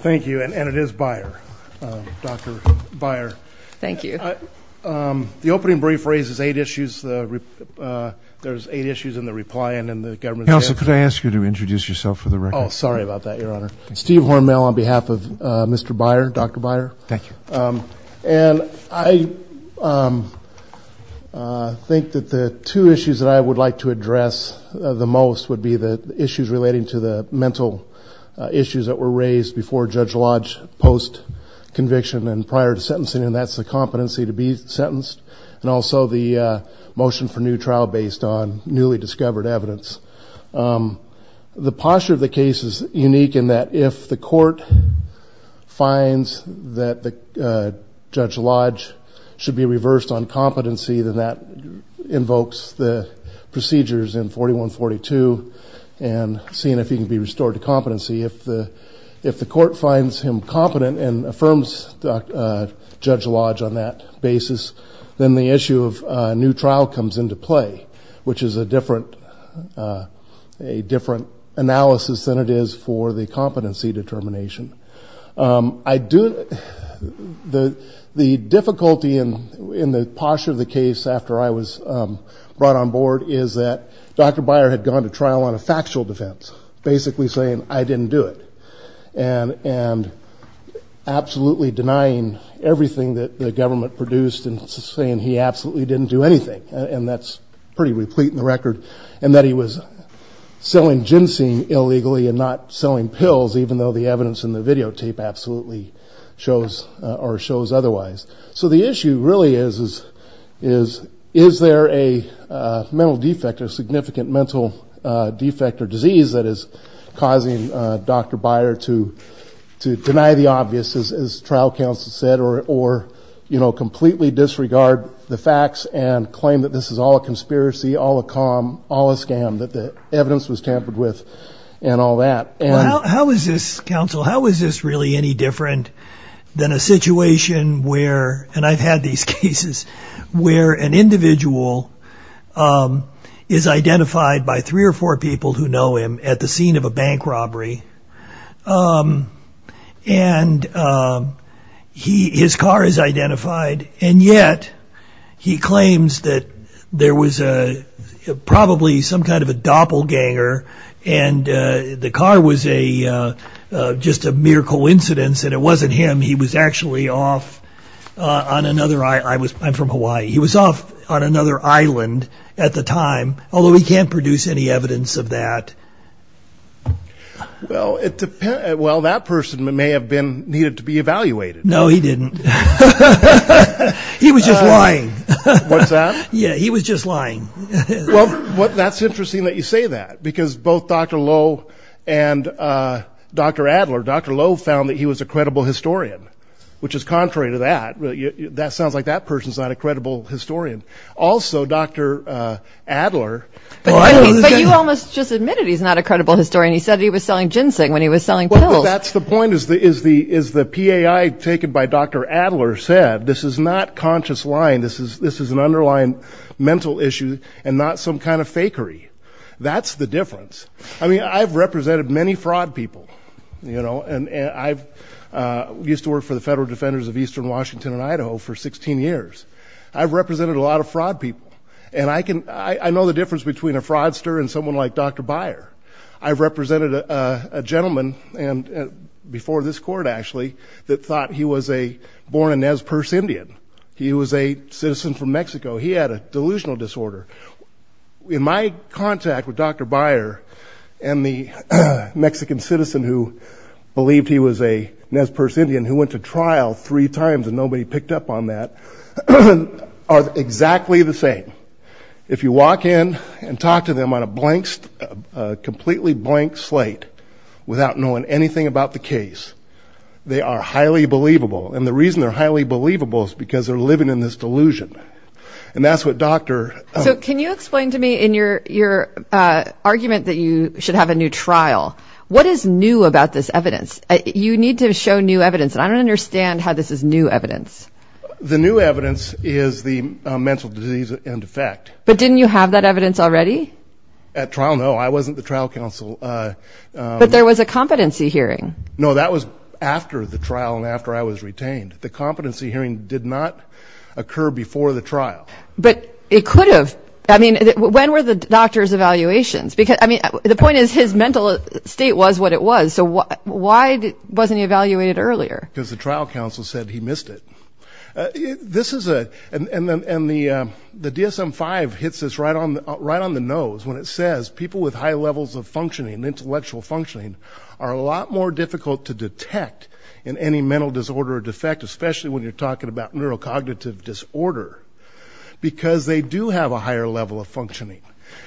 Thank you and it is Beier, Dr. Beier. Thank you. The opening brief raises eight issues. There's eight issues in the reply and in the government's answer. Counsel, could I ask you to introduce yourself for the record? Oh, sorry about that, Your Honor. Steve Hornmail on behalf of Mr. Beier, Dr. Beier. Thank you. And I think that the two issues that I would like to address the most would be the issues relating to the mental issues that were raised before Judge Lodge post-conviction and prior to sentencing, and that's the competency to be sentenced and also the motion for new trial based on newly discovered evidence. The posture of the case is unique in that if the court finds that Judge Lodge should be reversed on competency, then that invokes the procedures in 4142 and seeing if he can be restored to competency. If the court finds him competent and affirms Judge Lodge on that basis, then the issue of new trial comes into play, which is a different analysis than it is for the competency determination. The difficulty in the posture of the case after I was brought on board is that Dr. Beier had gone to trial on a factual defense, basically saying, I didn't do it, and absolutely denying everything that the government produced and saying he absolutely didn't do anything, and that's pretty replete in the record, and that he was selling ginseng illegally and not selling pills, even though the evidence in the videotape absolutely shows or shows otherwise. So the issue really is, is there a mental defect, a significant mental defect or disease that is causing Dr. Beier to deny the obvious, as trial counsel said, or completely disregard the facts and claim that this is all a conspiracy, all a con, all a scam, that the evidence was tampered with and all that. How is this, counsel, how is this really any different than a situation where, and I've had these cases, where an individual is identified by three or four people who know him at the scene of a bank robbery, and his car is identified, and yet he claims that there was probably some kind of a doppelganger, and the car was just a mere coincidence, and it wasn't him, he was actually off on another, I'm from Hawaii, he was off on another island at the time, although he can't produce any evidence of that. Well, that person may have been needed to be evaluated. No, he didn't. He was just lying. What's that? Yeah, he was just lying. Well, that's interesting that you say that, because both Dr. Lowe and Dr. Adler, Dr. Lowe found that he was a credible historian, which is contrary to that. That sounds like that person's not a credible historian. Also, Dr. Adler. But you almost just admitted he's not a credible historian. He said he was selling ginseng when he was selling pills. Well, that's the point, is the PAI taken by Dr. Adler said, this is not conscious lying, this is an underlying mental issue and not some kind of fakery. That's the difference. I mean, I've represented many fraud people, you know, and I used to work for the Federal Defenders of Eastern Washington and Idaho for 16 years. I've represented a lot of fraud people, and I know the difference between a fraudster and someone like Dr. Byer. I've represented a gentleman before this court, actually, that thought he was a born-in-Nez Perce Indian. He was a citizen from Mexico. He had a delusional disorder. In my contact with Dr. Byer and the Mexican citizen who believed he was a Nez Perce Indian, who went to trial three times and nobody picked up on that, are exactly the same. If you walk in and talk to them on a blank, completely blank slate, without knowing anything about the case, they are highly believable. And the reason they're highly believable is because they're living in this delusion. And that's what Dr. So can you explain to me in your argument that you should have a new trial, what is new about this evidence? You need to show new evidence, and I don't understand how this is new evidence. The new evidence is the mental disease in effect. But didn't you have that evidence already? At trial, no. I wasn't the trial counsel. But there was a competency hearing. No, that was after the trial and after I was retained. The competency hearing did not occur before the trial. But it could have. I mean, when were the doctor's evaluations? I mean, the point is his mental state was what it was. So why wasn't he evaluated earlier? Because the trial counsel said he missed it. And the DSM-5 hits us right on the nose when it says people with high levels of functioning, intellectual functioning, are a lot more difficult to detect in any mental disorder or defect, especially when you're talking about neurocognitive disorder, because they do have a higher level of functioning.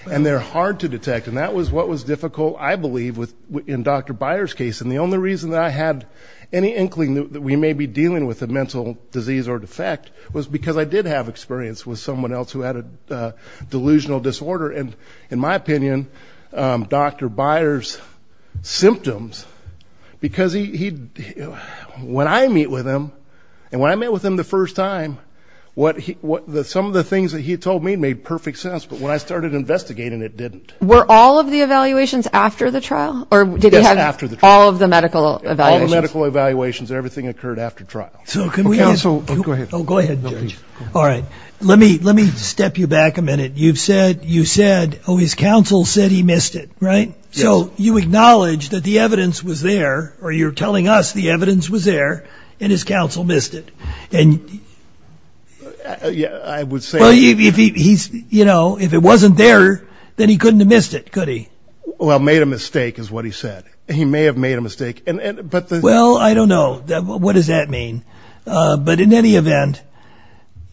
And they're hard to detect. And that was what was difficult, I believe, in Dr. Byer's case. And the only reason that I had any inkling that we may be dealing with a mental disease or defect was because I did have experience with someone else who had a delusional disorder. And in my opinion, Dr. Byer's symptoms, because when I meet with him, and when I met with him the first time, some of the things that he told me made perfect sense. But when I started investigating, it didn't. Were all of the evaluations after the trial? Yes, after the trial. All of the medical evaluations? All the medical evaluations. Everything occurred after trial. Oh, go ahead. Oh, go ahead, Judge. All right. Let me step you back a minute. You've said, oh, his counsel said he missed it, right? Yes. So you acknowledge that the evidence was there, or you're telling us the evidence was there, and his counsel missed it. Yeah, I would say. Well, if it wasn't there, then he couldn't have missed it, could he? Well, made a mistake is what he said. He may have made a mistake. Well, I don't know. What does that mean? But in any event,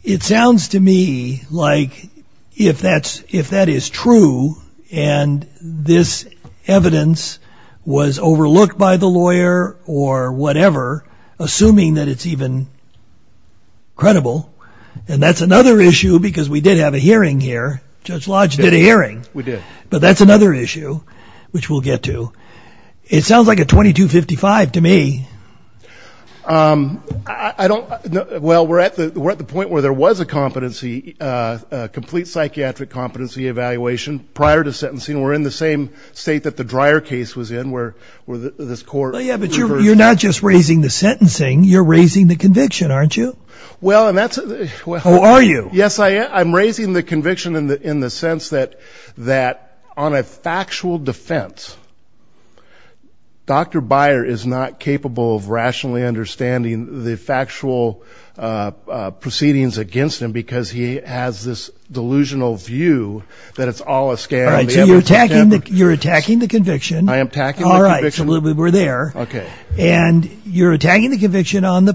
it sounds to me like if that is true, and this evidence was overlooked by the lawyer or whatever, assuming that it's even credible, then that's another issue, because we did have a hearing here. Judge Lodge did a hearing. We did. But that's another issue, which we'll get to. It sounds like a 2255 to me. I don't know. Well, we're at the point where there was a competency, a complete psychiatric competency evaluation prior to sentencing. We're in the same state that the Dreyer case was in, where this court reversed that. Well, yeah, but you're not just raising the sentencing. You're raising the conviction, aren't you? Well, and that's a – Who are you? Yes, I'm raising the conviction in the sense that on a factual defense, Dr. Byer is not capable of rationally understanding the factual proceedings against him because he has this delusional view that it's all a scam. So you're attacking the conviction. I am attacking the conviction. All right, so we're there. Okay. And you're attacking the conviction on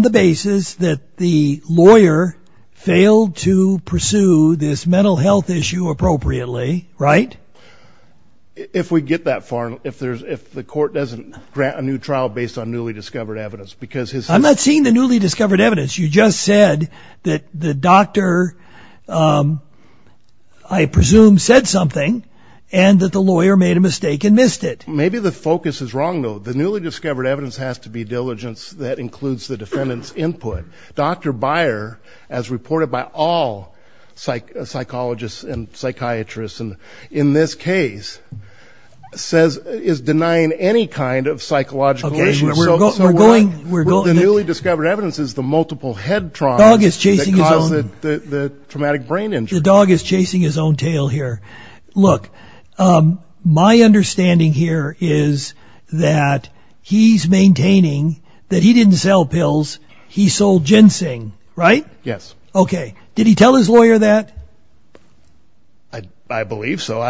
the basis that the lawyer failed to pursue this mental health issue appropriately, right? If we get that far, if the court doesn't grant a new trial based on newly discovered evidence. I'm not seeing the newly discovered evidence. You just said that the doctor, I presume, said something and that the lawyer made a mistake and missed it. Maybe the focus is wrong, though. The newly discovered evidence has to be diligence that includes the defendant's input. Dr. Byer, as reported by all psychologists and psychiatrists in this case, is denying any kind of psychological reason. Okay, so we're going – The newly discovered evidence is the multiple head traumas that cause the traumatic brain injury. The dog is chasing his own tail here. Look, my understanding here is that he's maintaining that he didn't sell pills. He sold ginseng, right? Yes. Okay. Did he tell his lawyer that? I believe so.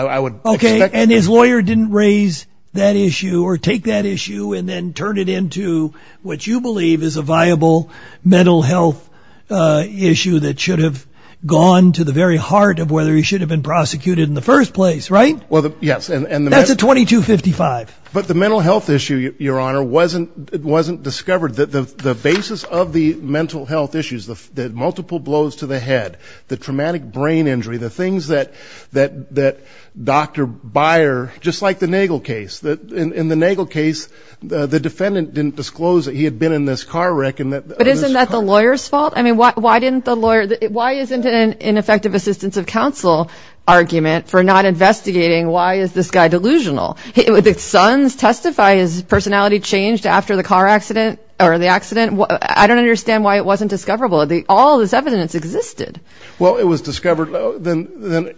Okay, and his lawyer didn't raise that issue or take that issue and then turn it into what you believe is a viable mental health issue that should have gone to the very heart of whether he should have been prosecuted in the first place, right? Well, yes. That's a 2255. But the mental health issue, Your Honor, wasn't discovered. The basis of the mental health issues, the multiple blows to the head, the traumatic brain injury, the things that Dr. Byer – just like the Nagel case. In the Nagel case, the defendant didn't disclose that he had been in this car wreck. But isn't that the lawyer's fault? I mean, why didn't the lawyer – why isn't it an ineffective assistance of counsel argument for not investigating? Why is this guy delusional? Would the sons testify his personality changed after the car accident or the accident? I don't understand why it wasn't discoverable. All this evidence existed. Well, it was discovered. The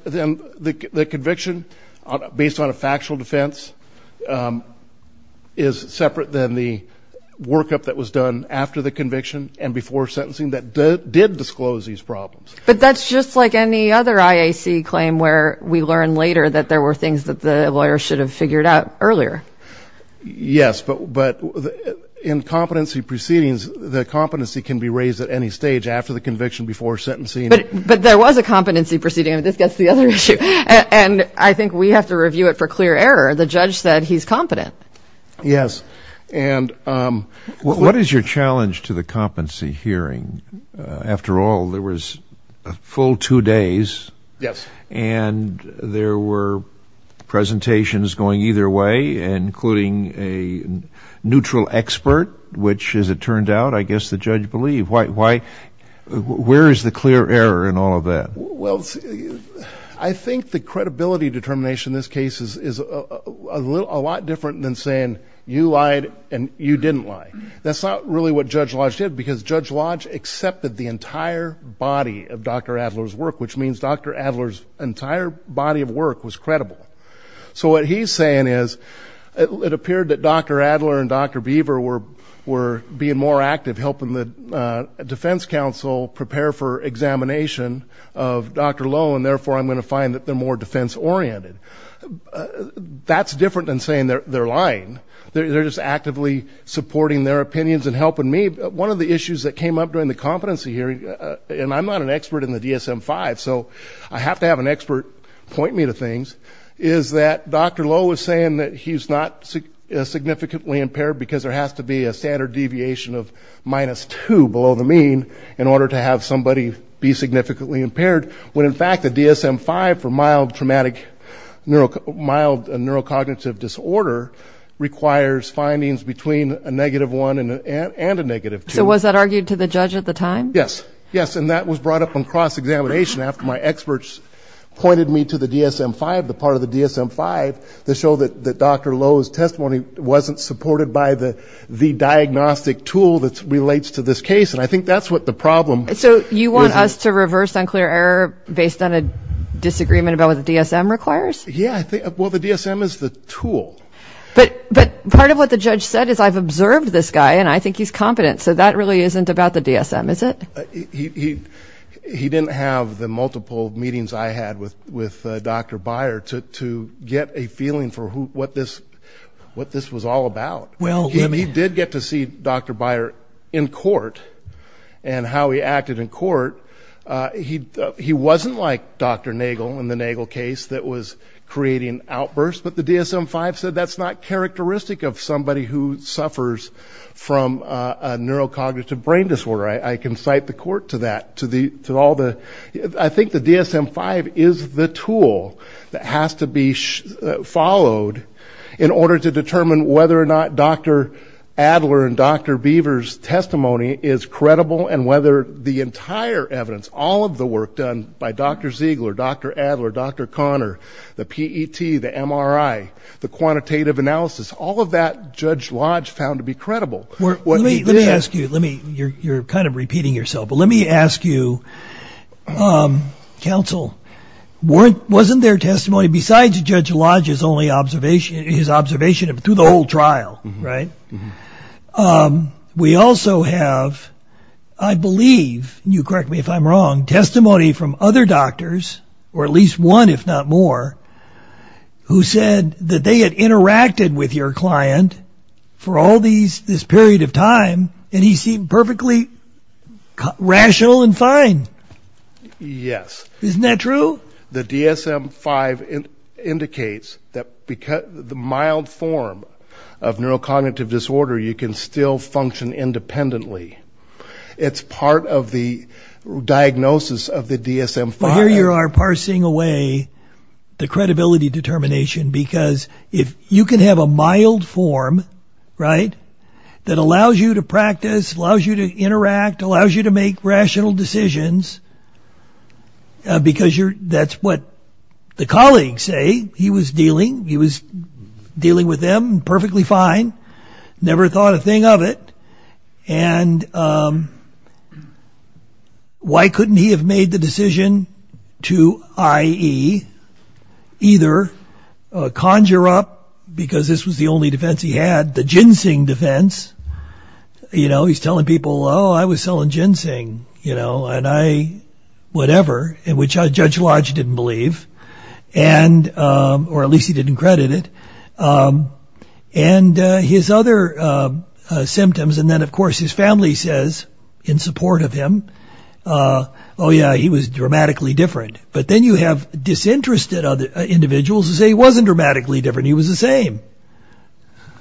conviction, based on a factual defense, is separate than the workup that was done after the conviction and before sentencing that did disclose these problems. But that's just like any other IAC claim where we learn later that there were things that the lawyer should have figured out earlier. Yes, but in competency proceedings, the competency can be raised at any stage after the conviction before sentencing. But there was a competency proceeding, and this gets to the other issue. And I think we have to review it for clear error. The judge said he's competent. Yes. What is your challenge to the competency hearing? After all, there was a full two days. Yes. And there were presentations going either way, including a neutral expert, which, as it turned out, I guess the judge believed. Where is the clear error in all of that? Well, I think the credibility determination in this case is a lot different than saying you lied and you didn't lie. That's not really what Judge Lodge did because Judge Lodge accepted the entire body of Dr. Adler's work, which means Dr. Adler's entire body of work was credible. So what he's saying is it appeared that Dr. Adler and Dr. Beaver were being more active helping the defense counsel prepare for examination of Dr. Lowe, and therefore I'm going to find that they're more defense-oriented. That's different than saying they're lying. They're just actively supporting their opinions and helping me. One of the issues that came up during the competency hearing, and I'm not an expert in the DSM-5, so I have to have an expert point me to things, is that Dr. Lowe was saying that he's not significantly impaired because there has to be a standard deviation of minus 2 below the mean in order to have somebody be significantly impaired, when in fact the DSM-5 for mild traumatic neurocognitive disorder requires findings between a negative 1 and a negative 2. So was that argued to the judge at the time? Yes, and that was brought up in cross-examination after my experts pointed me to the DSM-5, the part of the DSM-5 that showed that Dr. Lowe's testimony wasn't supported by the diagnostic tool that relates to this case, and I think that's what the problem is. So you want us to reverse unclear error based on a disagreement about what the DSM requires? Yeah, well, the DSM is the tool. But part of what the judge said is I've observed this guy and I think he's competent, so that really isn't about the DSM, is it? He didn't have the multiple meetings I had with Dr. Beyer to get a feeling for what this was all about. He did get to see Dr. Beyer in court and how he acted in court. He wasn't like Dr. Nagel in the Nagel case that was creating outbursts, but the DSM-5 said that's not characteristic of somebody who suffers from a neurocognitive brain disorder. I can cite the court to that. I think the DSM-5 is the tool that has to be followed in order to determine whether or not Dr. Adler and Dr. Beaver's testimony is credible and whether the entire evidence, all of the work done by Dr. Ziegler, Dr. Adler, Dr. Conner, the PET, the MRI, the quantitative analysis, all of that Judge Lodge found to be credible. Let me ask you, you're kind of repeating yourself, but let me ask you, counsel, wasn't there testimony besides Judge Lodge's observation through the whole trial? We also have, I believe, you correct me if I'm wrong, testimony from other doctors, or at least one if not more, who said that they had interacted with your client for all this period of time and he seemed perfectly rational and fine. Yes. Isn't that true? The DSM-5 indicates that the mild form of neurocognitive disorder, you can still function independently. It's part of the diagnosis of the DSM-5. Here you are parsing away the credibility determination because if you can have a mild form, right, that allows you to practice, allows you to interact, allows you to make rational decisions because that's what the colleagues say. He was dealing with them perfectly fine, never thought a thing of it, and why couldn't he have made the decision to, i.e., either conjure up, because this was the only defense he had, the ginseng defense. You know, he's telling people, oh, I was selling ginseng, you know, and I, whatever, which Judge Lodge didn't believe, or at least he didn't credit it. And his other symptoms, and then, of course, his family says in support of him, oh, yeah, he was dramatically different. But then you have disinterested individuals who say he wasn't dramatically different, he was the same.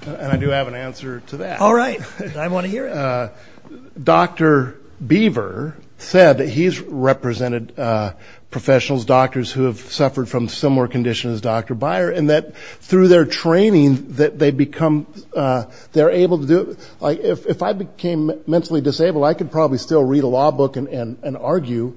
And I do have an answer to that. All right. I want to hear it. Dr. Beaver said that he's represented professionals, doctors who have suffered from similar conditions as Dr. Byer, and that through their training that they become able to do it. Like, if I became mentally disabled, I could probably still read a law book and argue.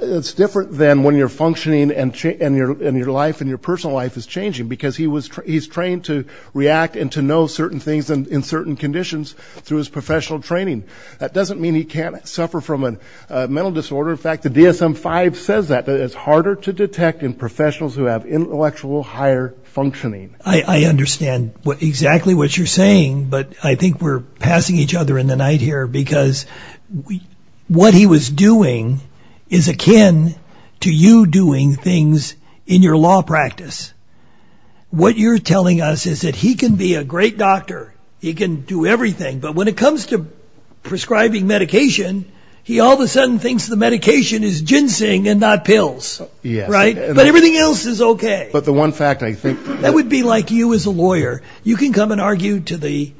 It's different than when you're functioning and your life and your personal life is changing because he's trained to react and to know certain things in certain conditions through his professional training. That doesn't mean he can't suffer from a mental disorder. In fact, the DSM-5 says that, that it's harder to detect in professionals who have intellectual higher functioning. I understand exactly what you're saying, but I think we're passing each other in the night here because what he was doing is akin to you doing things in your law practice. What you're telling us is that he can be a great doctor. He can do everything. But when it comes to prescribing medication, he all of a sudden thinks the medication is ginseng and not pills. Yes. Right? But everything else is okay. But the one fact I think... That would be like you as a lawyer. You can come and argue to the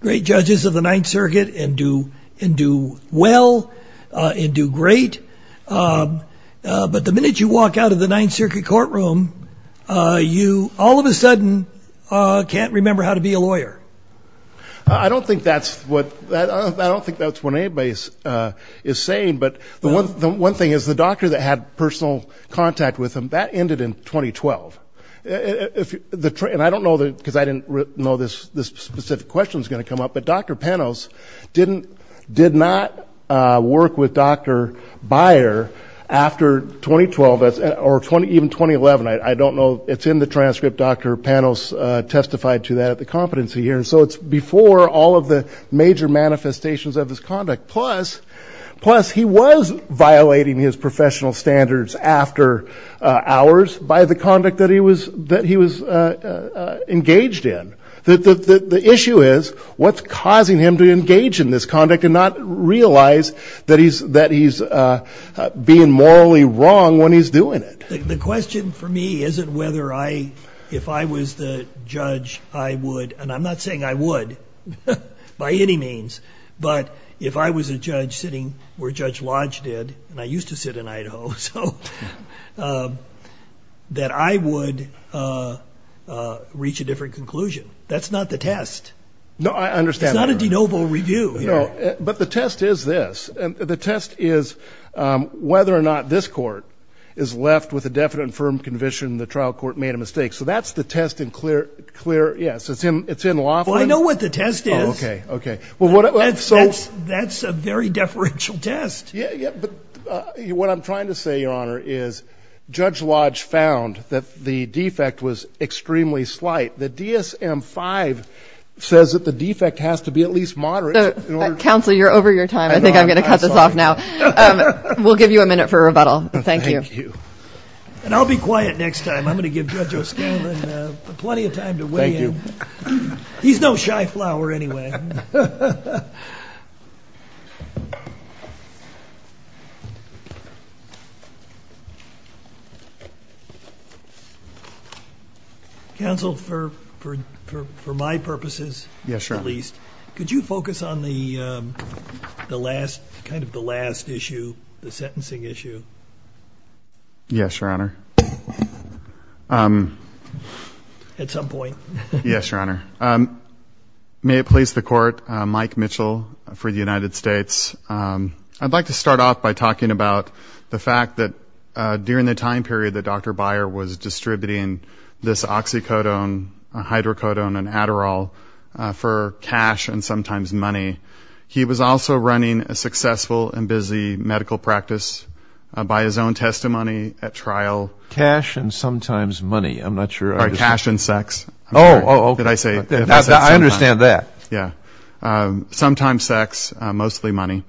great judges of the Ninth Circuit and do well and do great. But the minute you walk out of the Ninth Circuit courtroom, you all of a sudden can't remember how to be a lawyer. I don't think that's what anybody is saying. But the one thing is the doctor that had personal contact with him, that ended in 2012. And I don't know because I didn't know this specific question was going to come up, but Dr. Panos did not work with Dr. Byer after 2012 or even 2011. I don't know. It's in the transcript. Dr. Panos testified to that at the competency hearing. So it's before all of the major manifestations of his conduct. Plus, he was violating his professional standards after hours by the conduct that he was engaged in. The issue is what's causing him to engage in this conduct and not realize that he's being morally wrong when he's doing it. The question for me isn't whether I, if I was the judge, I would. And I'm not saying I would by any means. But if I was a judge sitting where Judge Lodge did, and I used to sit in Idaho, so that I would reach a different conclusion. That's not the test. No, I understand. It's not a de novo review here. No, but the test is this. The test is whether or not this court is left with a definite and firm conviction the trial court made a mistake. So that's the test and clear, yes, it's in law form. Well, I know what the test is. Okay, okay. That's a very deferential test. Yeah, yeah, but what I'm trying to say, Your Honor, is Judge Lodge found that the defect was extremely slight. The DSM-5 says that the defect has to be at least moderate. Counsel, you're over your time. I think I'm going to cut this off now. We'll give you a minute for rebuttal. Thank you. Thank you. And I'll be quiet next time. I'm going to give Judge O'Scalin plenty of time to weigh in. Thank you. He's no shy flower, anyway. Counsel, for my purposes, at least, could you focus on the last issue, the sentencing issue? Yes, Your Honor. At some point. Yes, Your Honor. May it please the Court, Mike Mitchell for the United States. I'd like to start off by talking about the fact that during the time period that Dr. Byer was distributing this oxycodone, hydrocodone, and Adderall for cash and sometimes money, he was also running a successful and busy medical practice by his own testimony at trial. I'm not sure I understand. Sorry, cash and sex. Oh, okay. I understand that. Yeah. Sometimes sex, mostly money.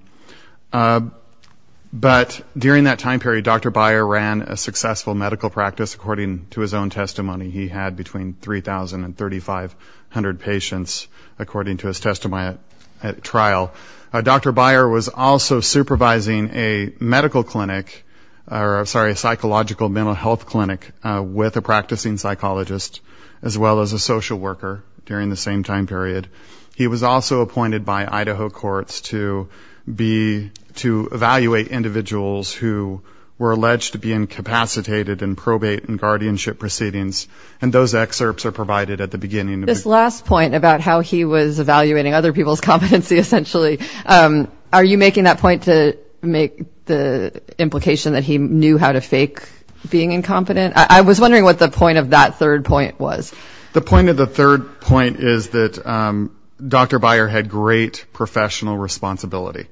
But during that time period, Dr. Byer ran a successful medical practice. According to his own testimony, he had between 3,000 and 3,500 patients, according to his testimony at trial. Dr. Byer was also supervising a medical clinic or, sorry, a psychological mental health clinic with a practicing psychologist, as well as a social worker during the same time period. He was also appointed by Idaho courts to evaluate individuals who were alleged to be incapacitated in probate and guardianship proceedings, and those excerpts are provided at the beginning. This last point about how he was evaluating other people's competency, essentially, are you making that point to make the implication that he knew how to fake being incompetent? I was wondering what the point of that third point was. The point of the third point is that Dr. Byer had great professional responsibility.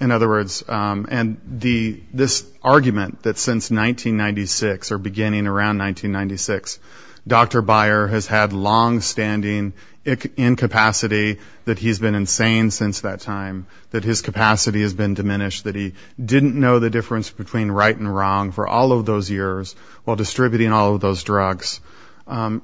In other words, and this argument that since 1996 or beginning around 1996, Dr. Byer has had longstanding incapacity, that he's been insane since that time, that his capacity has been diminished, that he didn't know the difference between right and wrong for all of those years while distributing all of those drugs,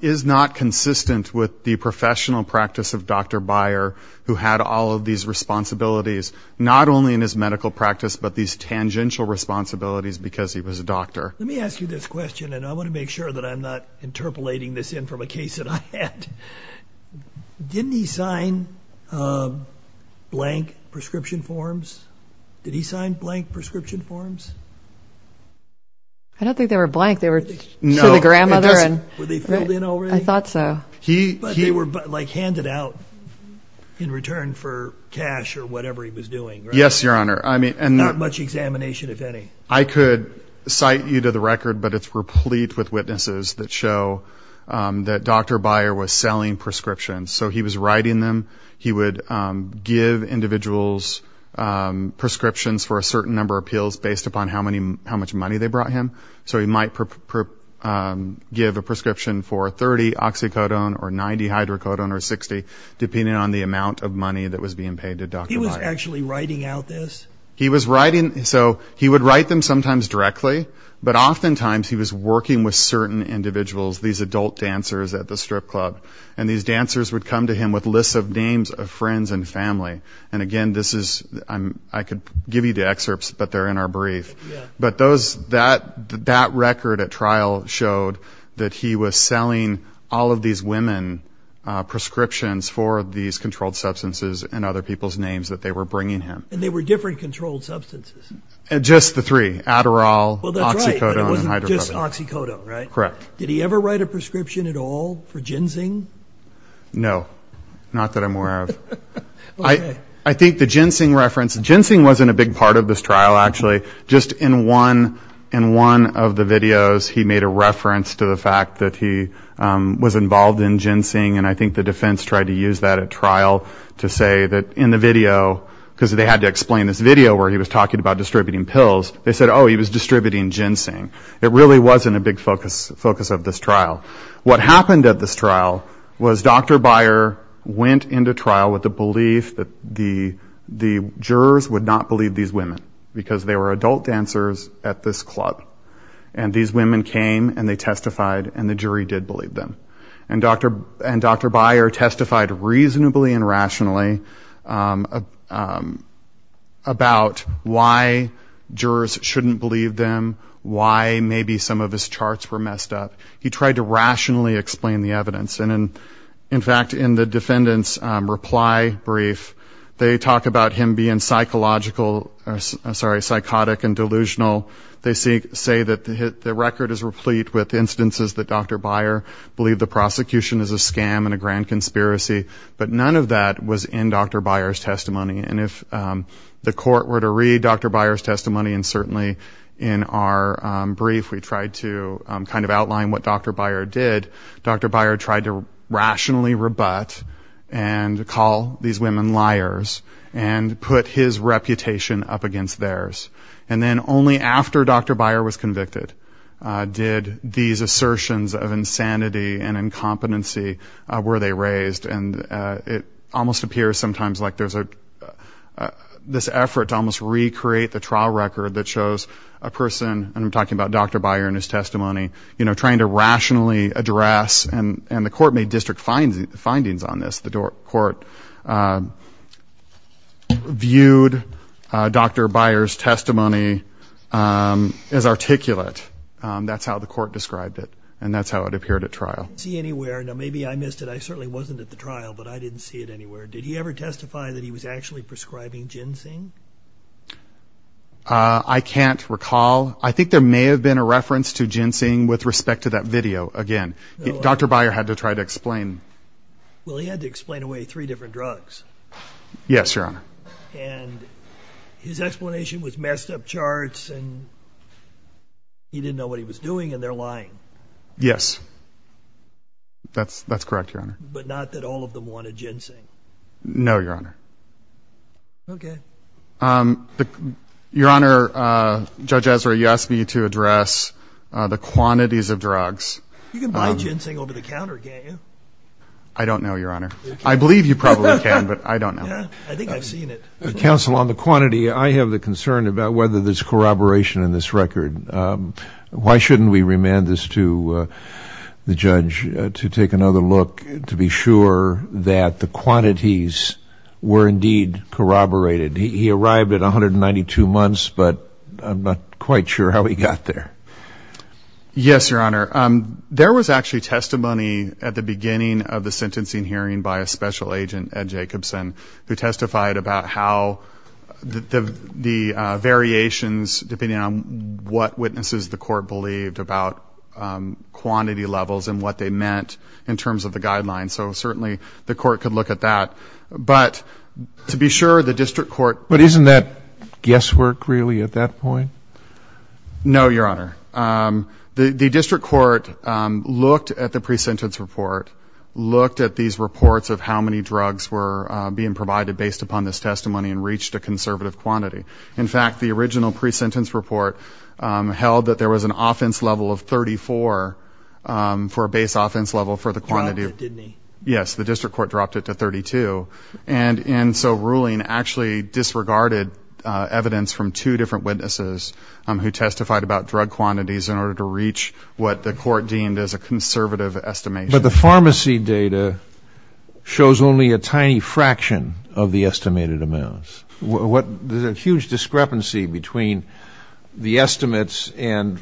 is not consistent with the professional practice of Dr. Byer who had all of these responsibilities, not only in his medical practice, but these tangential responsibilities because he was a doctor. Let me ask you this question, and I want to make sure that I'm not interpolating this in from a case that I had. Didn't he sign blank prescription forms? Did he sign blank prescription forms? I don't think they were blank. They were to the grandmother. Were they filled in already? I thought so. But they were, like, handed out in return for cash or whatever he was doing, right? Yes, Your Honor. Not much examination, if any. I could cite you to the record, but it's replete with witnesses that show that Dr. Byer was selling prescriptions. So he was writing them. He would give individuals prescriptions for a certain number of pills based upon how much money they brought him. So he might give a prescription for 30 oxycodone or 90 hydrocodone or 60, depending on the amount of money that was being paid to Dr. Byer. He was actually writing out this? He was writing. So he would write them sometimes directly, but oftentimes he was working with certain individuals, these adult dancers at the strip club. And these dancers would come to him with lists of names of friends and family. And, again, this is – I could give you the excerpts, but they're in our brief. But that record at trial showed that he was selling all of these women prescriptions for these controlled substances and other people's names that they were bringing him. And they were different controlled substances? Just the three, Adderall, oxycodone, and hydrocodone. Well, that's right, but it wasn't just oxycodone, right? Correct. Did he ever write a prescription at all for ginseng? No, not that I'm aware of. I think the ginseng reference – ginseng wasn't a big part of this trial, actually. Just in one of the videos, he made a reference to the fact that he was involved in ginseng. And I think the defense tried to use that at trial to say that in the video, because they had to explain this video where he was talking about distributing pills, they said, oh, he was distributing ginseng. It really wasn't a big focus of this trial. What happened at this trial was Dr. Byer went into trial with the belief that the jurors would not believe these women because they were adult dancers at this club. And these women came, and they testified, and the jury did believe them. And Dr. Byer testified reasonably and rationally about why jurors shouldn't believe them, why maybe some of his charts were messed up. He tried to rationally explain the evidence. And, in fact, in the defendant's reply brief, they talk about him being psychological – I'm sorry, psychotic and delusional. They say that the record is replete with instances that Dr. Byer believed the prosecution is a scam and a grand conspiracy, but none of that was in Dr. Byer's testimony. And if the court were to read Dr. Byer's testimony, and certainly in our brief, we tried to kind of outline what Dr. Byer did, Dr. Byer tried to rationally rebut and call these women liars and put his reputation up against theirs. And then only after Dr. Byer was convicted did these assertions of insanity and incompetency were they raised. And it almost appears sometimes like there's this effort to almost recreate the trial record that shows a person – and I'm talking about Dr. Byer and his testimony – trying to rationally address – and the court made district findings on this. The court viewed Dr. Byer's testimony as articulate. That's how the court described it, and that's how it appeared at trial. I didn't see it anywhere. Now, maybe I missed it. I certainly wasn't at the trial, but I didn't see it anywhere. Did he ever testify that he was actually prescribing ginseng? I can't recall. I think there may have been a reference to ginseng with respect to that video. Again, Dr. Byer had to try to explain. Well, he had to explain away three different drugs. Yes, Your Honor. And his explanation was messed up charts, and he didn't know what he was doing, and they're lying. Yes. That's correct, Your Honor. But not that all of them wanted ginseng. No, Your Honor. Okay. Your Honor, Judge Ezra, you asked me to address the quantities of drugs. You can buy ginseng over the counter, can't you? I don't know, Your Honor. I believe you probably can, but I don't know. I think I've seen it. Counsel, on the quantity, I have the concern about whether there's corroboration in this record. Why shouldn't we remand this to the judge to take another look to be sure that the quantities were indeed corroborated? He arrived at 192 months, but I'm not quite sure how he got there. Yes, Your Honor. There was actually testimony at the beginning of the sentencing hearing by a special agent, Ed Jacobson, who testified about how the variations, depending on what witnesses the court believed about quantity levels and what they meant in terms of the guidelines. So certainly the court could look at that. But to be sure, the district court ---- But isn't that guesswork, really, at that point? No, Your Honor. The district court looked at the pre-sentence report, looked at these reports of how many drugs were being provided based upon this testimony and reached a conservative quantity. In fact, the original pre-sentence report held that there was an offense level of 34 for a base offense level for the quantity. Dropped it, didn't he? Yes, the district court dropped it to 32. And so ruling actually disregarded evidence from two different witnesses who testified about drug quantities in order to reach what the court deemed as a conservative estimation. But the pharmacy data shows only a tiny fraction of the estimated amounts. There's a huge discrepancy between the estimates and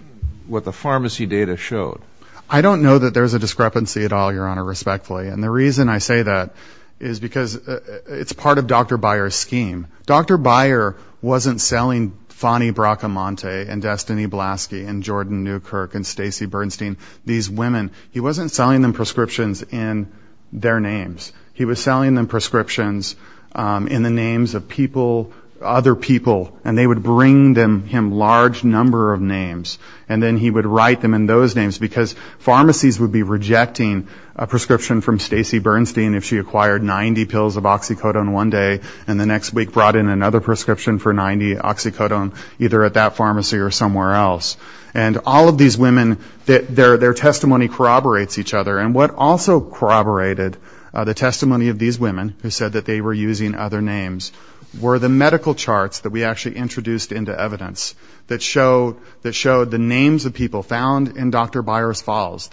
what the pharmacy data showed. I don't know that there's a discrepancy at all, Your Honor, respectfully. And the reason I say that is because it's part of Dr. Byer's scheme. Dr. Byer wasn't selling Fannie Bracamonte and Destiny Blaski and Jordan Newkirk and Stacey Bernstein, these women, he wasn't selling them prescriptions in their names. He was selling them prescriptions in the names of people, other people, and they would bring him large number of names. And then he would write them in those names because pharmacies would be rejecting a prescription from Stacey Bernstein if she acquired 90 pills of oxycodone one day and the next week brought in another prescription for 90 oxycodone either at that pharmacy or somewhere else. And all of these women, their testimony corroborates each other. And what also corroborated the testimony of these women, who said that they were using other names, were the medical charts that we actually introduced into evidence that showed the names of people found in Dr. Byer's files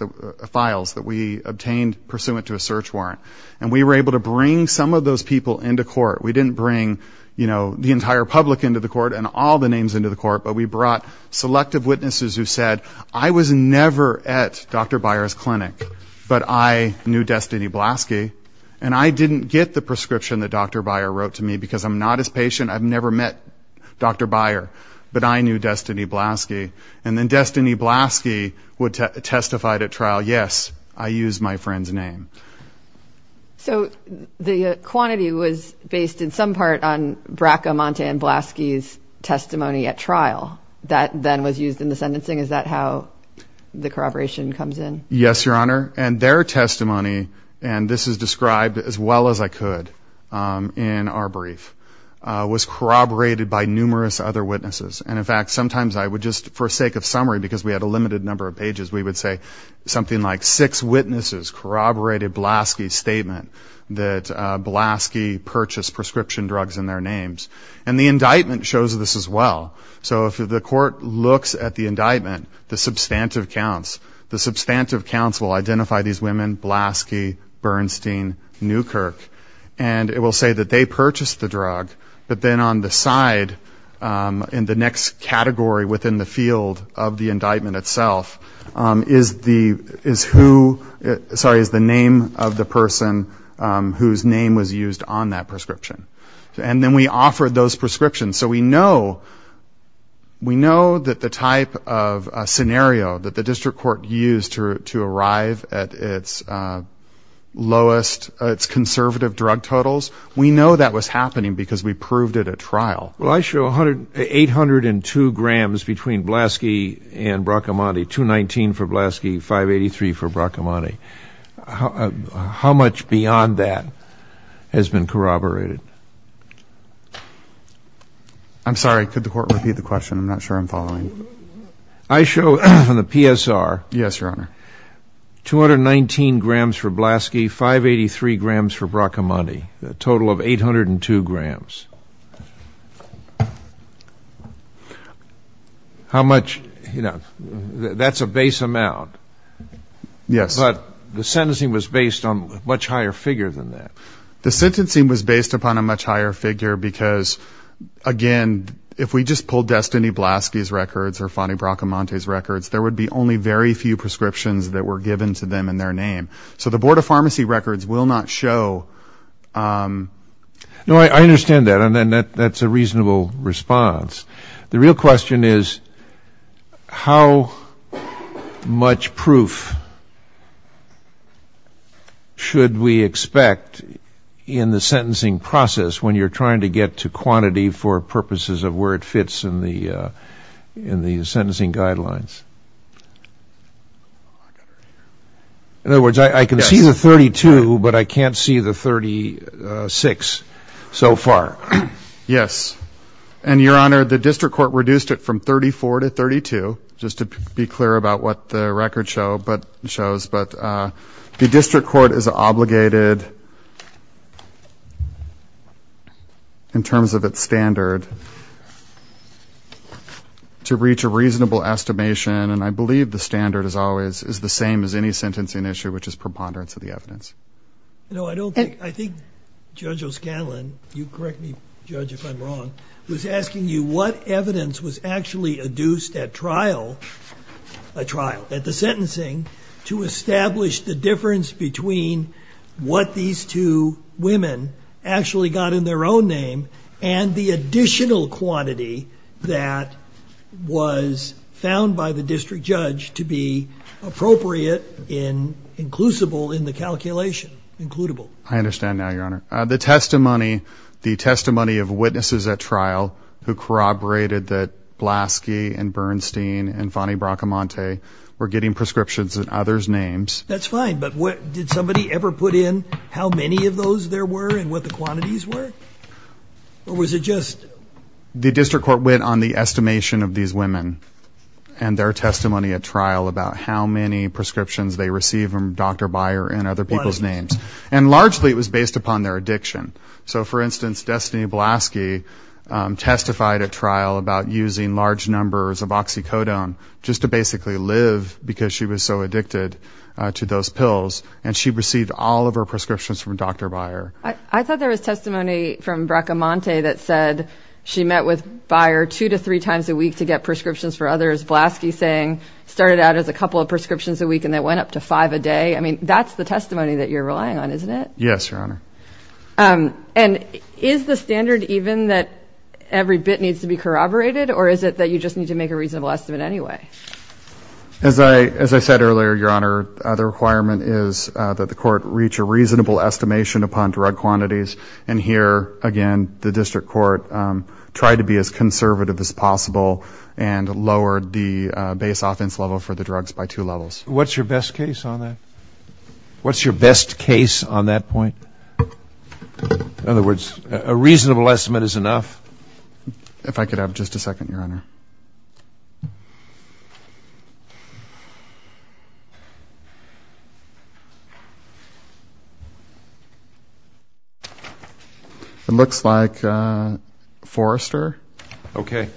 that we obtained pursuant to a search warrant. And we were able to bring some of those people into court. We didn't bring, you know, the entire public into the court and all the names into the court, but we brought selective witnesses who said, I was never at Dr. Byer's clinic, but I knew Destiny Blaski, and I didn't get the prescription that Dr. Byer wrote to me because I'm not his patient, I've never met Dr. Byer, but I knew Destiny Blaski. And then Destiny Blaski would testify at trial, yes, I used my friend's name. So the quantity was based in some part on Bracamonte and Blaski's testimony at trial. That then was used in the sentencing. Is that how the corroboration comes in? Yes, Your Honor, and their testimony, and this is described as well as I could in our brief, was corroborated by numerous other witnesses. And, in fact, sometimes I would just, for sake of summary, because we had a limited number of pages, we would say something like six witnesses corroborated Blaski's statement that Blaski purchased prescription drugs in their names. And the indictment shows this as well. So if the court looks at the indictment, the substantive counts, the substantive counts will identify these women, Blaski, Bernstein, Newkirk, and it will say that they purchased the drug, but then on the side, in the next category within the field of the indictment itself, is the name of the person whose name was used on that prescription. And then we offer those prescriptions. So we know that the type of scenario that the district court used to arrive at its lowest, its conservative drug totals, we know that was happening because we proved it at trial. Well, I show 802 grams between Blaski and Brachiamonti, 219 for Blaski, 583 for Brachiamonti. How much beyond that has been corroborated? I'm sorry. Could the court repeat the question? I'm not sure I'm following. I show from the PSR. Yes, Your Honor. 219 grams for Blaski, 583 grams for Brachiamonti, a total of 802 grams. How much, you know, that's a base amount. Yes. But the sentencing was based on a much higher figure than that. The sentencing was based upon a much higher figure because, again, if we just pulled Destiny Blaski's records or Fannie Brachiamonti's records, there would be only very few prescriptions that were given to them in their name. So the Board of Pharmacy records will not show. No, I understand that, and that's a reasonable response. The real question is how much proof should we expect in the sentencing process when you're trying to get to quantity for purposes of where it fits in the sentencing guidelines? In other words, I can see the 32, but I can't see the 36 so far. Yes, and, Your Honor, the district court reduced it from 34 to 32, just to be clear about what the record shows. But the district court is obligated, in terms of its standard, to reach a reasonable estimation, and I believe the standard is always the same as any sentencing issue, which is preponderance of the evidence. You know, I think Judge O'Scanlan, you correct me, Judge, if I'm wrong, was asking you what evidence was actually adduced at trial, at the sentencing, to establish the difference between what these two women actually got in their own name and the additional quantity that was found by the district judge to be appropriate, inclusible in the calculation, includable. I understand now, Your Honor. The testimony of witnesses at trial who corroborated that Blaski and Bernstein and Fannie Bracamonte were getting prescriptions in others' names. That's fine, but did somebody ever put in how many of those there were and what the quantities were? Or was it just... The district court went on the estimation of these women and their testimony at trial about how many prescriptions they received from Dr. Byer and other people's names. And largely it was based upon their addiction. So, for instance, Destiny Blaski testified at trial about using large numbers of oxycodone just to basically live because she was so addicted to those pills. And she received all of her prescriptions from Dr. Byer. I thought there was testimony from Bracamonte that said she met with Byer two to three times a week to get prescriptions for others. Blaski saying it started out as a couple of prescriptions a week and it went up to five a day. I mean, that's the testimony that you're relying on, isn't it? Yes, Your Honor. And is the standard even that every bit needs to be corroborated, or is it that you just need to make a reasonable estimate anyway? As I said earlier, Your Honor, the requirement is that the court reach a reasonable estimation upon drug quantities. And here, again, the district court tried to be as conservative as possible and lowered the base offense level for the drugs by two levels. What's your best case on that? What's your best case on that point? In other words, a reasonable estimate is enough. If I could have just a second, Your Honor. It looks like Forrester. Okay.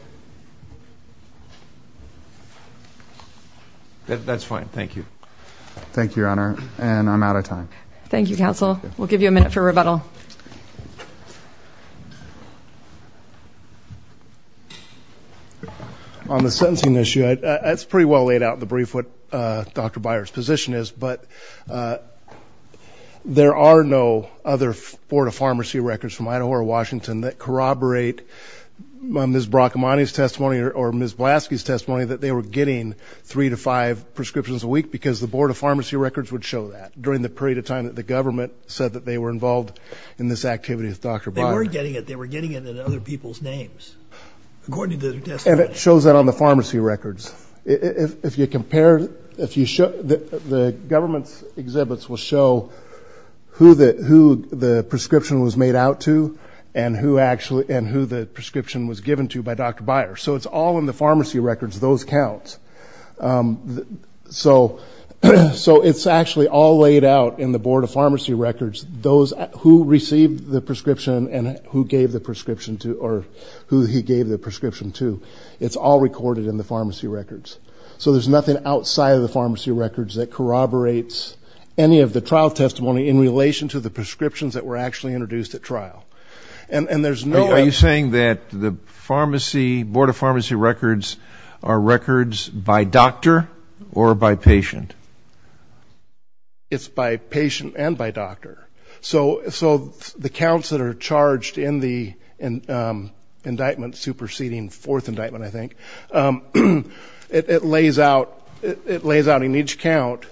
That's fine. Thank you. Thank you, Your Honor. And I'm out of time. Thank you, counsel. We'll give you a minute for rebuttal. On the sentencing issue, it's pretty well laid out in the brief what Dr. Byer's position is, but there are no other Board of Pharmacy records from Idaho or Washington that corroborate Ms. Bracamonte's testimony or Ms. Blaski's testimony that they were getting three to five prescriptions a week because the Board of Pharmacy records would show that during the period of time that the government said that they were involved in this activity with Dr. Byer. They were getting it. They were getting it in other people's names, according to the testimony. And it shows that on the pharmacy records. If you compare it, the government's exhibits will show who the prescription was made out to and who the prescription was given to by Dr. Byer. So it's all in the pharmacy records. Those count. So it's actually all laid out in the Board of Pharmacy records, who received the prescription and who gave the prescription to or who he gave the prescription to. It's all recorded in the pharmacy records. So there's nothing outside of the pharmacy records that corroborates any of the trial testimony in relation to the prescriptions that were actually introduced at trial. And there's no other. Are you saying that the pharmacy, Board of Pharmacy records are records by doctor or by patient? It's by patient and by doctor. So the counts that are charged in the indictment superseding fourth indictment, I think, it lays out in each count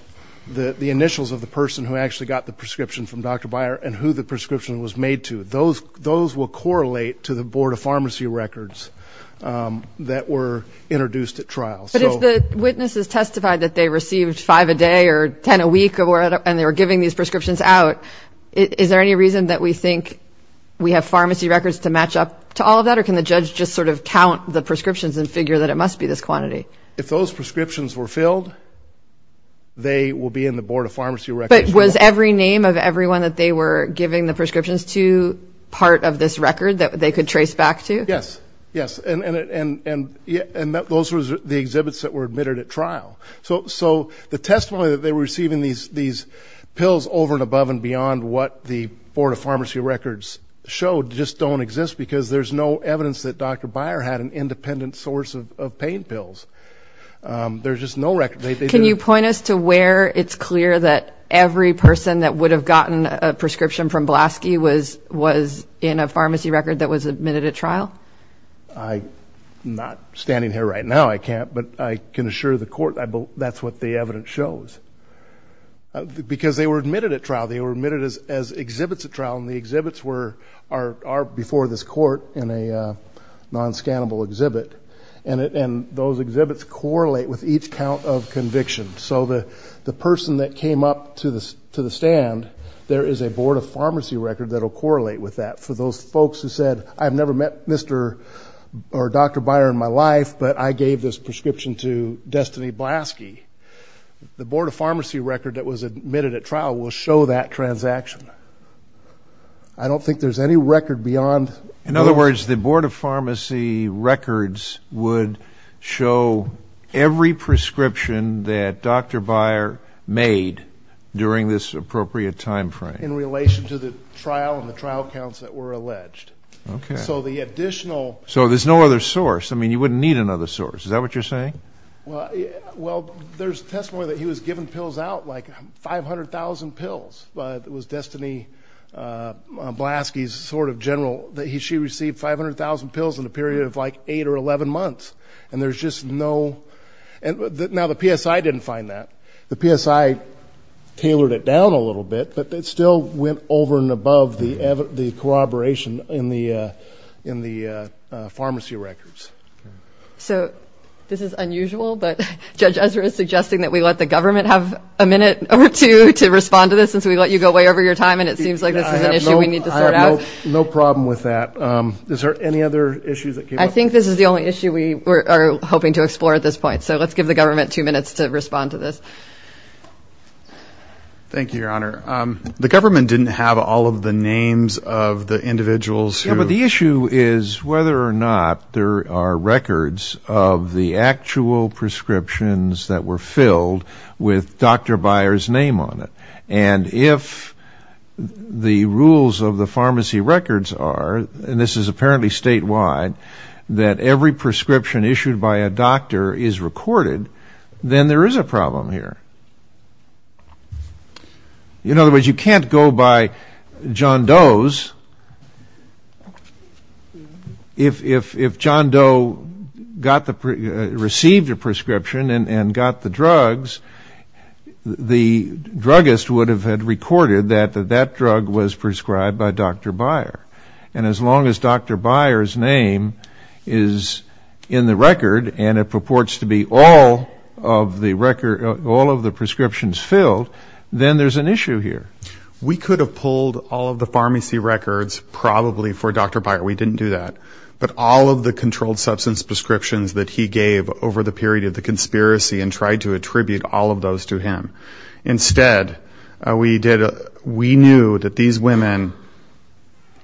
the initials of the person who actually got the prescription from Dr. Byer and who the prescription was made to. Those will correlate to the Board of Pharmacy records that were introduced at trial. But if the witnesses testified that they received five a day or ten a week and they were giving these prescriptions out, is there any reason that we think we have pharmacy records to match up to all of that? Or can the judge just sort of count the prescriptions and figure that it must be this quantity? If those prescriptions were filled, they will be in the Board of Pharmacy records. But was every name of everyone that they were giving the prescriptions to part of this record that they could trace back to? Yes. Yes. And those were the exhibits that were admitted at trial. So the testimony that they were receiving these pills over and above and beyond what the Board of Pharmacy records showed just don't exist because there's no evidence that Dr. Byer had an independent source of pain pills. There's just no record. Can you point us to where it's clear that every person that would have gotten a prescription from Blaski was in a pharmacy record that was admitted at trial? I'm not standing here right now, I can't. In the court, that's what the evidence shows. Because they were admitted at trial, they were admitted as exhibits at trial, and the exhibits are before this court in a non-scannable exhibit. And those exhibits correlate with each count of conviction. So the person that came up to the stand, there is a Board of Pharmacy record that will correlate with that. For those folks who said, I've never met Mr. or Dr. Byer in my life, but I gave this prescription to Destiny Blaski, the Board of Pharmacy record that was admitted at trial will show that transaction. I don't think there's any record beyond. In other words, the Board of Pharmacy records would show every prescription that Dr. Byer made during this appropriate time frame. In relation to the trial and the trial counts that were alleged. So the additional... So there's no other source. I mean, you wouldn't need another source. Is that what you're saying? Well, there's testimony that he was given pills out, like 500,000 pills. It was Destiny Blaski's sort of general that she received 500,000 pills in a period of like 8 or 11 months. And there's just no... Now, the PSI didn't find that. The PSI tailored it down a little bit, but it still went over and above the corroboration in the pharmacy records. So this is unusual, but Judge Ezra is suggesting that we let the government have a minute or two to respond to this, and so we let you go way over your time, and it seems like this is an issue we need to sort out. I have no problem with that. Is there any other issues that came up? I think this is the only issue we are hoping to explore at this point. So let's give the government two minutes to respond to this. Thank you, Your Honor. The government didn't have all of the names of the individuals who... Yeah, but the issue is whether or not there are records of the actual prescriptions that were filled with Dr. Byer's name on it. And if the rules of the pharmacy records are, and this is apparently statewide, that every prescription issued by a doctor is recorded, then there is a problem here. In other words, you can't go by John Doe's. If John Doe received a prescription and got the drugs, the druggist would have had recorded that that drug was prescribed by Dr. Byer. And as long as Dr. Byer's name is in the record and it purports to be all of the prescriptions filled, then there is an issue here. We could have pulled all of the pharmacy records probably for Dr. Byer. We didn't do that. But all of the controlled substance prescriptions that he gave over the period of the conspiracy and tried to attribute all of those to him. Instead, we knew that these women,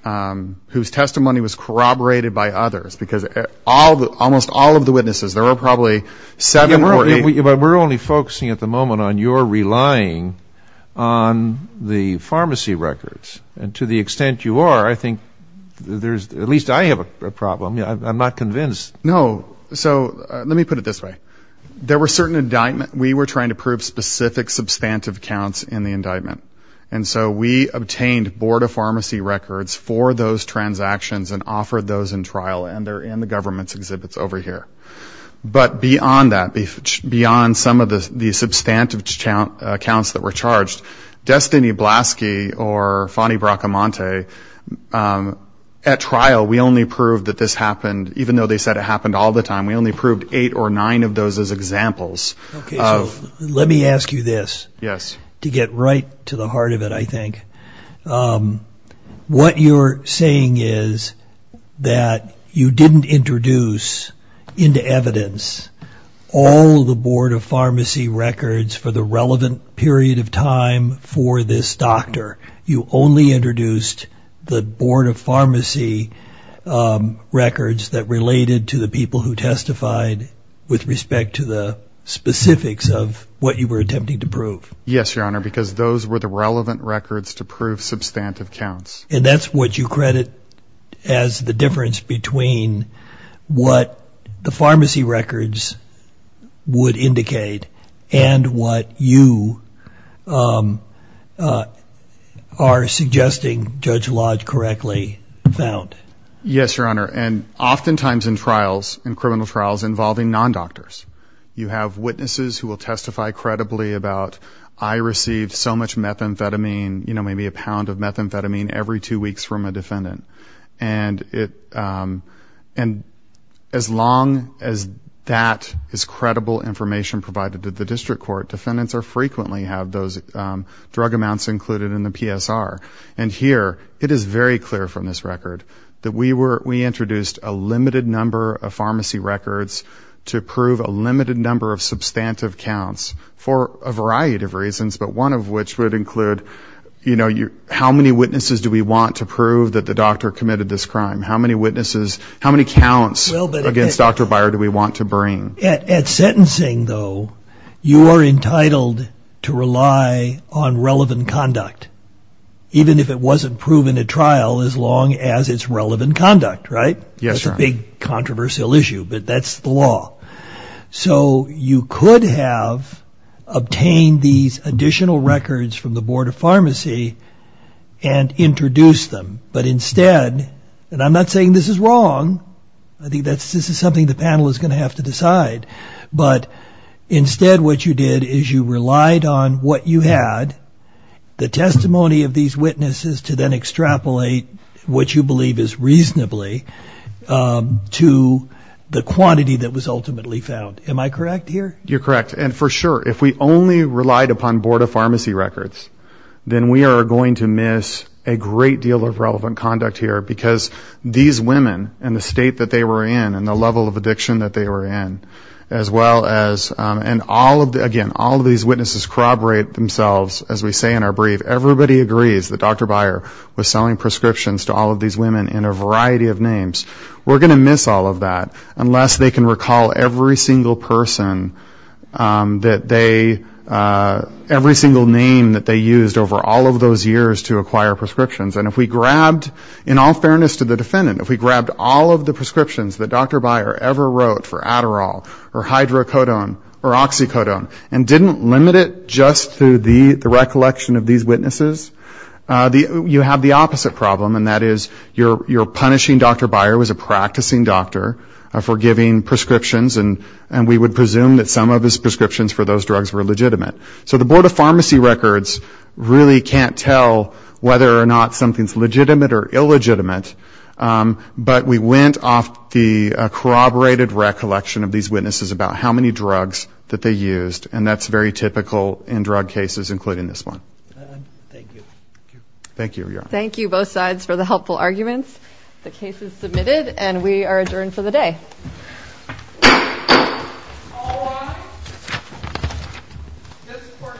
whose testimony was corroborated by others, because almost all of the witnesses, there were probably seven or eight... Yeah, but we're only focusing at the moment on your relying on the pharmacy records. And to the extent you are, I think there's, at least I have a problem. I'm not convinced. No. So let me put it this way. There were certain indictments. We were trying to prove specific substantive counts in the indictment. And so we obtained Board of Pharmacy records for those transactions and offered those in trial. And they're in the government's exhibits over here. But beyond that, beyond some of the substantive counts that were charged, Destiny Blaski or Fannie Bracamonte, at trial, we only proved that this happened, even though they said it happened all the time. We only proved eight or nine of those as examples. Okay. So let me ask you this. Yes. To get right to the heart of it, I think. What you're saying is that you didn't introduce into evidence all the Board of Pharmacy records for the relevant period of time for this doctor. You only introduced the Board of Pharmacy records that related to the people who testified with respect to the specifics of what you were attempting to prove. Yes, Your Honor, because those were the relevant records to prove substantive counts. And that's what you credit as the difference between what the pharmacy records would indicate and what you are suggesting Judge Lodge correctly found. Yes, Your Honor. And oftentimes in trials, in criminal trials, involving non-doctors, you have witnesses who will testify credibly about, I received so much methamphetamine, you know, maybe a pound of methamphetamine every two weeks from a defendant. And as long as that is credible information provided to the district court, defendants frequently have those drug amounts included in the PSR. And here it is very clear from this record that we introduced a limited number of pharmacy records to prove a limited number of substantive counts for a variety of reasons, but one of which would include, you know, how many witnesses do we want to prove that the doctor committed this crime? How many witnesses, how many counts against Dr. Byer do we want to bring? At sentencing, though, you are entitled to rely on relevant conduct, even if it wasn't proven at trial, as long as it's relevant conduct, right? Yes, Your Honor. That's a big controversial issue, but that's the law. So you could have obtained these additional records from the Board of Pharmacy and introduced them, but instead, and I'm not saying this is wrong, I think this is something the panel is going to have to decide, but instead what you did is you relied on what you had, the testimony of these witnesses to then extrapolate what you believe is reasonably to the quantity that was ultimately found. Am I correct here? You're correct. And for sure, if we only relied upon Board of Pharmacy records, then we are going to miss a great deal of relevant conduct here, because these women and the state that they were in and the level of addiction that they were in, as well as, and all of the, again, all of these witnesses corroborate themselves, as we say in our brief, everybody agrees that Dr. Byer was selling prescriptions to all of these women in a variety of names. We're going to miss all of that, unless they can recall every single person that they used over all of those years to acquire prescriptions. And if we grabbed, in all fairness to the defendant, if we grabbed all of the prescriptions that Dr. Byer ever wrote for Adderall or hydrocodone or oxycodone and didn't limit it just to the recollection of these witnesses, you have the opposite problem, and that is you're punishing Dr. Byer who is a practicing doctor for giving prescriptions, and we would presume that some of his prescriptions for those drugs were legitimate. So the Board of Pharmacy Records really can't tell whether or not something is legitimate or illegitimate, but we went off the corroborated recollection of these witnesses about how many drugs that they used, and that's very typical in drug cases, including this one. Thank you. Thank you, both sides, for the helpful arguments. The case is submitted, and we are adjourned for the day. All rise. This court for this session is adjourned.